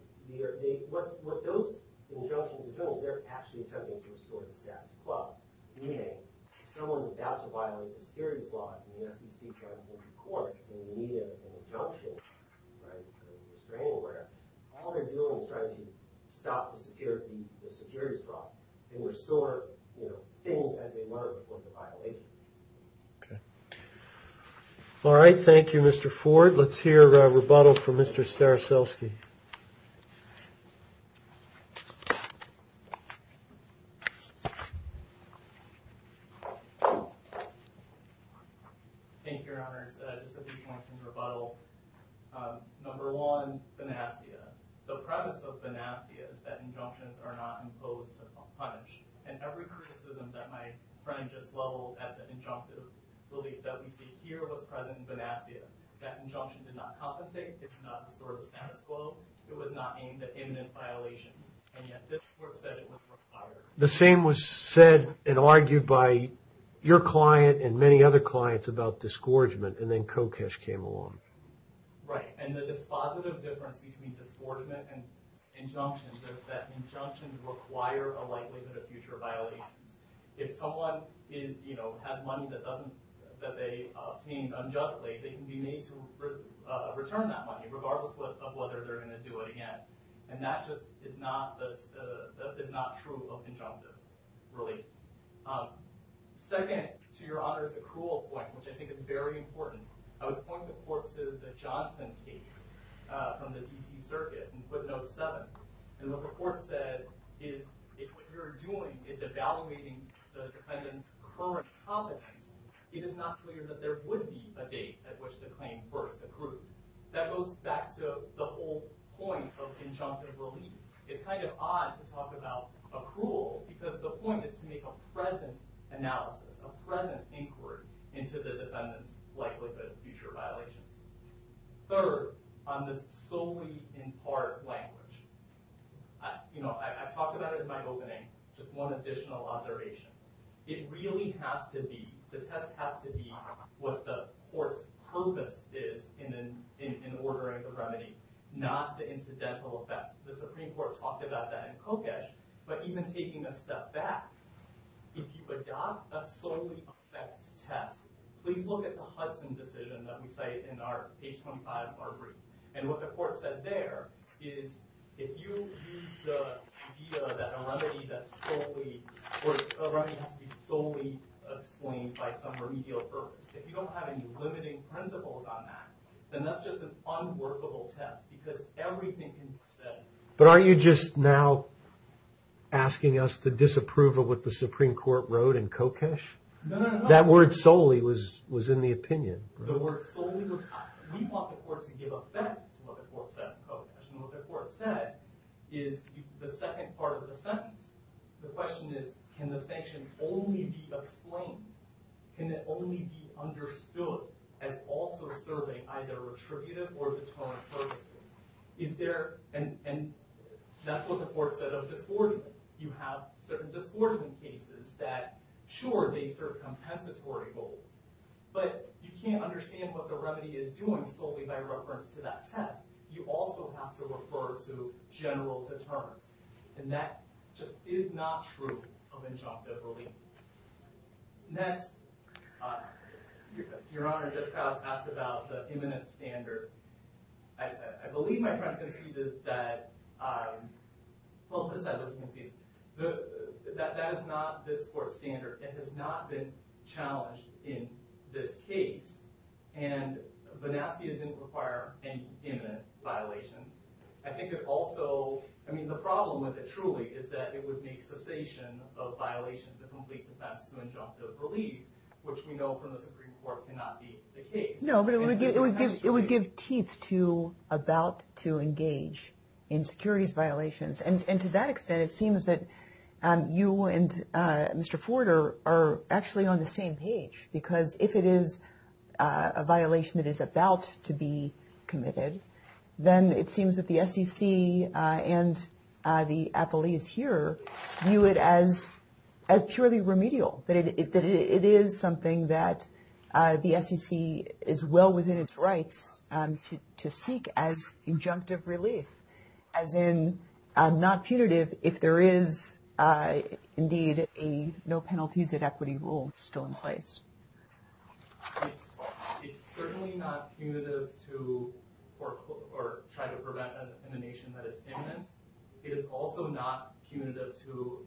what those injunctions do, they're actually attempting to restore the status quo. Meaning, if someone is about to violate the security clause, and the SEC tries to take a court, and you need an injunction, or a restraining order, all they're doing is trying to stop the security clause, and restore things as they were before the violation. All right, thank you, Mr. Ford. Let's hear a rebuttal from Mr. Staroselsky. Thank you, Your Honor. Just a few points in rebuttal. Number one, vanassia. The premise of vanassia is that injunctions are not imposed to punish. And every criticism that my friend just leveled at the injunctive belief that we see here was present in vanassia. That injunction did not compensate. It did not restore the status quo. It was not aimed at imminent violation. And yet, this court said it was required. The same was said and argued by your client and many other clients about disgorgement, and then Kokesh came along. Right, and the dispositive difference between disgorgement and injunction is that injunctions require a likelihood of future violations. If someone has money that they obtained unjustly, they can be made to return that money, regardless of whether they're going to do it again. And that just is not true of injunctions, really. Second, to Your Honor's accrual point, which I think is very important, I would point the court to the Johnson case from the D.C. Circuit in footnote seven. And the court said, if what you're doing is evaluating the defendant's current competence, it is not clear that there would be a date at which the claim were accrued. That goes back to the whole point of injunctive relief. It's kind of odd to talk about accrual because the point is to make a present analysis, a present inquiry into the defendant's likelihood of future violations. Third, on this solely in part language, you know, I talked about it in my opening, just one additional observation. It really has to be, the test has to be what the court's purpose is in ordering the remedy, not the incidental effect. The Supreme Court talked about that in Kokesh, but even taking a step back, if you adopt a solely effects test, please look at the Hudson decision that we cite in our page 25 arbitration. And what the court said there is, if you use the idea that a remedy that's solely, or a remedy has to be solely explained by some remedial purpose, if you don't have any limiting principles on that, then that's just an unworkable test because everything can be said. But aren't you just now asking us to disapprove of what the Supreme Court wrote in Kokesh? No, no, no. That word solely was in the opinion. The word solely, we want the court to give effect to what the court said in Kokesh. And what the court said is the second part of the sentence. The question is, can the sanction only be explained? Can it only be understood as also serving either retributive or deterrent purposes? Is there, and that's what the court said of discordant. You have certain discordant cases that sure, they serve compensatory goals, but you can't understand what the remedy is doing solely by reference to that test. You also have to refer to general deterrents. And that just is not true of injunctive relief. Next. Your Honor, Judge Krause asked about the imminent standard. I believe my friend conceded that, well, this I don't concede, that that is not this court's standard. It has not been challenged in this case. And Banowski didn't require an imminent violation. I think it also, I mean, the problem with it truly is that it would make cessation of violations of complete defense to injunctive relief, which we know from the Supreme Court cannot be the case. No, but it would give teeth to about to engage in securities violations. And to that extent, it seems that you and Mr. Ford are actually on the same page. Because if it is a violation that is about to be committed, then it seems that the SEC and the athletes here view it as purely remedial. That it is something that the SEC is well within its rights to seek as injunctive relief, as in not punitive if there is indeed a no penalties at equity rule still in place. It's certainly not punitive to, or try to prevent an emanation that is imminent. It is also not punitive to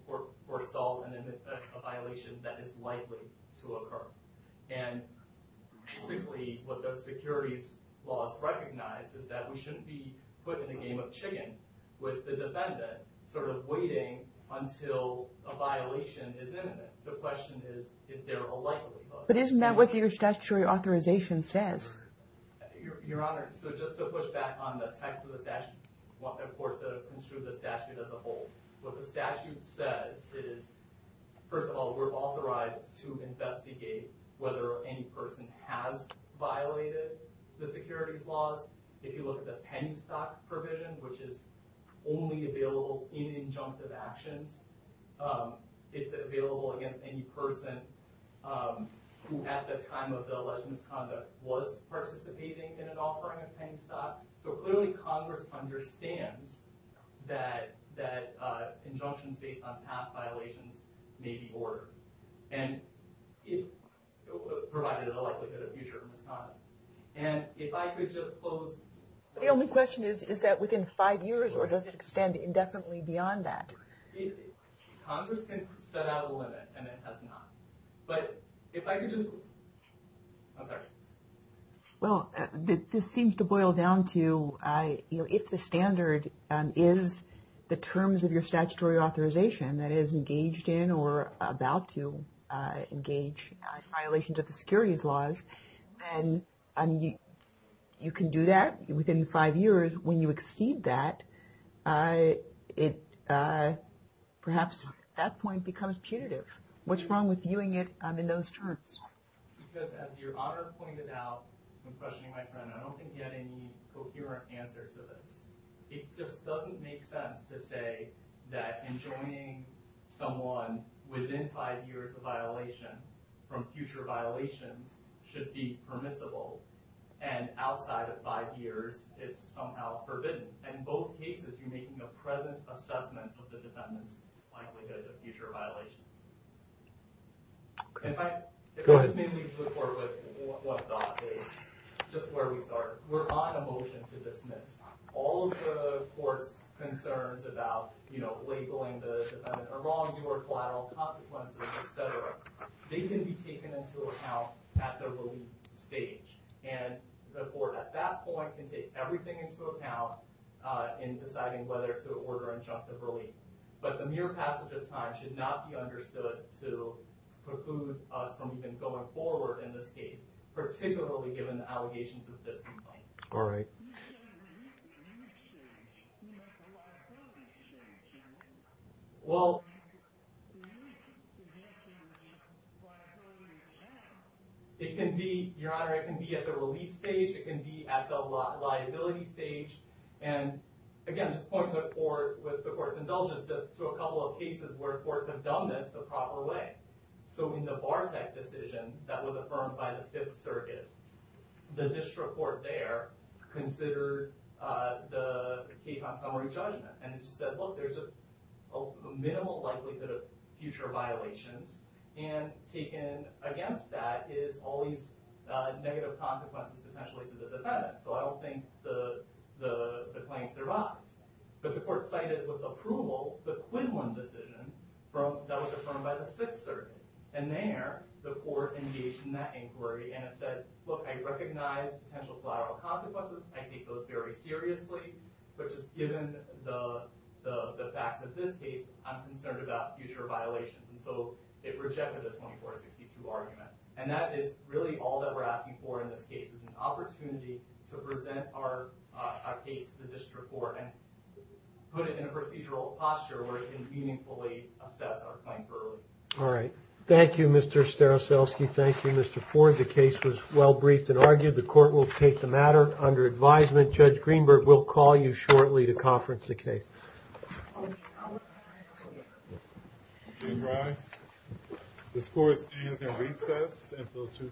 forestall a violation that is likely to occur. And basically what those securities laws recognize is that we shouldn't be put in a game of chicken with the defendant sort of waiting until a violation is imminent. The question is if they're alike. But isn't that what your statutory authorization says? Your Honor, so just to push back on the text of the statute, I want the court to ensure the statute as a whole. What the statute says is, first of all, we're authorized to investigate whether any person has violated the securities laws. If you look at the penny stock provision, which is only available in injunctive actions, it's available against any person who at the time of the alleged misconduct was participating in an offering of penny stock. So clearly Congress understands that injunctions based on past violations may be ordered. And it provided a likelihood of future misconduct. And if I could just close. The only question is, is that within five years or does it extend indefinitely beyond that? Congress can set out a limit and it has not. But if I could just, I'm sorry. Well, this seems to boil down to, you know, if the standard is the terms of your statutory authorization that is engaged in or about to engage violations of the securities laws, then you can do that within five years. And when you exceed that, perhaps that point becomes punitive. What's wrong with viewing it in those terms? Because as your honor pointed out, when questioning my friend, I don't think he had any coherent answer to this. It just doesn't make sense to say that enjoining someone within five years of violation from future violations should be permissible. And outside of five years, it's somehow forbidden. And in both cases, you're making a present assessment of the defendant's likelihood of future violations. If I could just make a report with one thought is just where we start. We're on a motion to dismiss all of the court's concerns about, you know, labeling the defendant a wrongdoer, collateral consequences, et cetera. They can be taken into account at the relief stage. And the court at that point can take everything into account in deciding whether to order injunctive relief. But the mere passage of time should not be understood to preclude us from even going forward in this case, particularly given the allegations of disinfo. All right. Well... It can be, Your Honor, it can be at the relief stage. It can be at the liability stage. And, again, just point the court with the court's indulgence just to a couple of cases where courts have done this the proper way. So in the Bartek decision that was affirmed by the Fifth Circuit, the district court there considered the case on summary judgment and said, look, there's a minimal likelihood of future violations. And taken against that is always negative consequences potentially to the defendant. So I don't think the claims are biased. But the court cited with approval the Quinlan decision that was affirmed by the Sixth Circuit. And there, the court engaged in that inquiry and it said, look, I recognize potential collateral consequences. I take those very seriously. But just given the facts of this case, I'm concerned about future violations. And so it rejected this 24 to 52 argument. And that is really all that we're asking for in this case. It's an opportunity to present our case to the district court and put it in a procedural posture where it can meaningfully assess our claims early. All right. Thank you, Mr. Staroselsky. Thank you, Mr. Ford. The case was well briefed and argued. The court will take the matter under advisement. Judge Greenberg will call you shortly to conference the case. All rise. The court stands in recess until 2 p.m.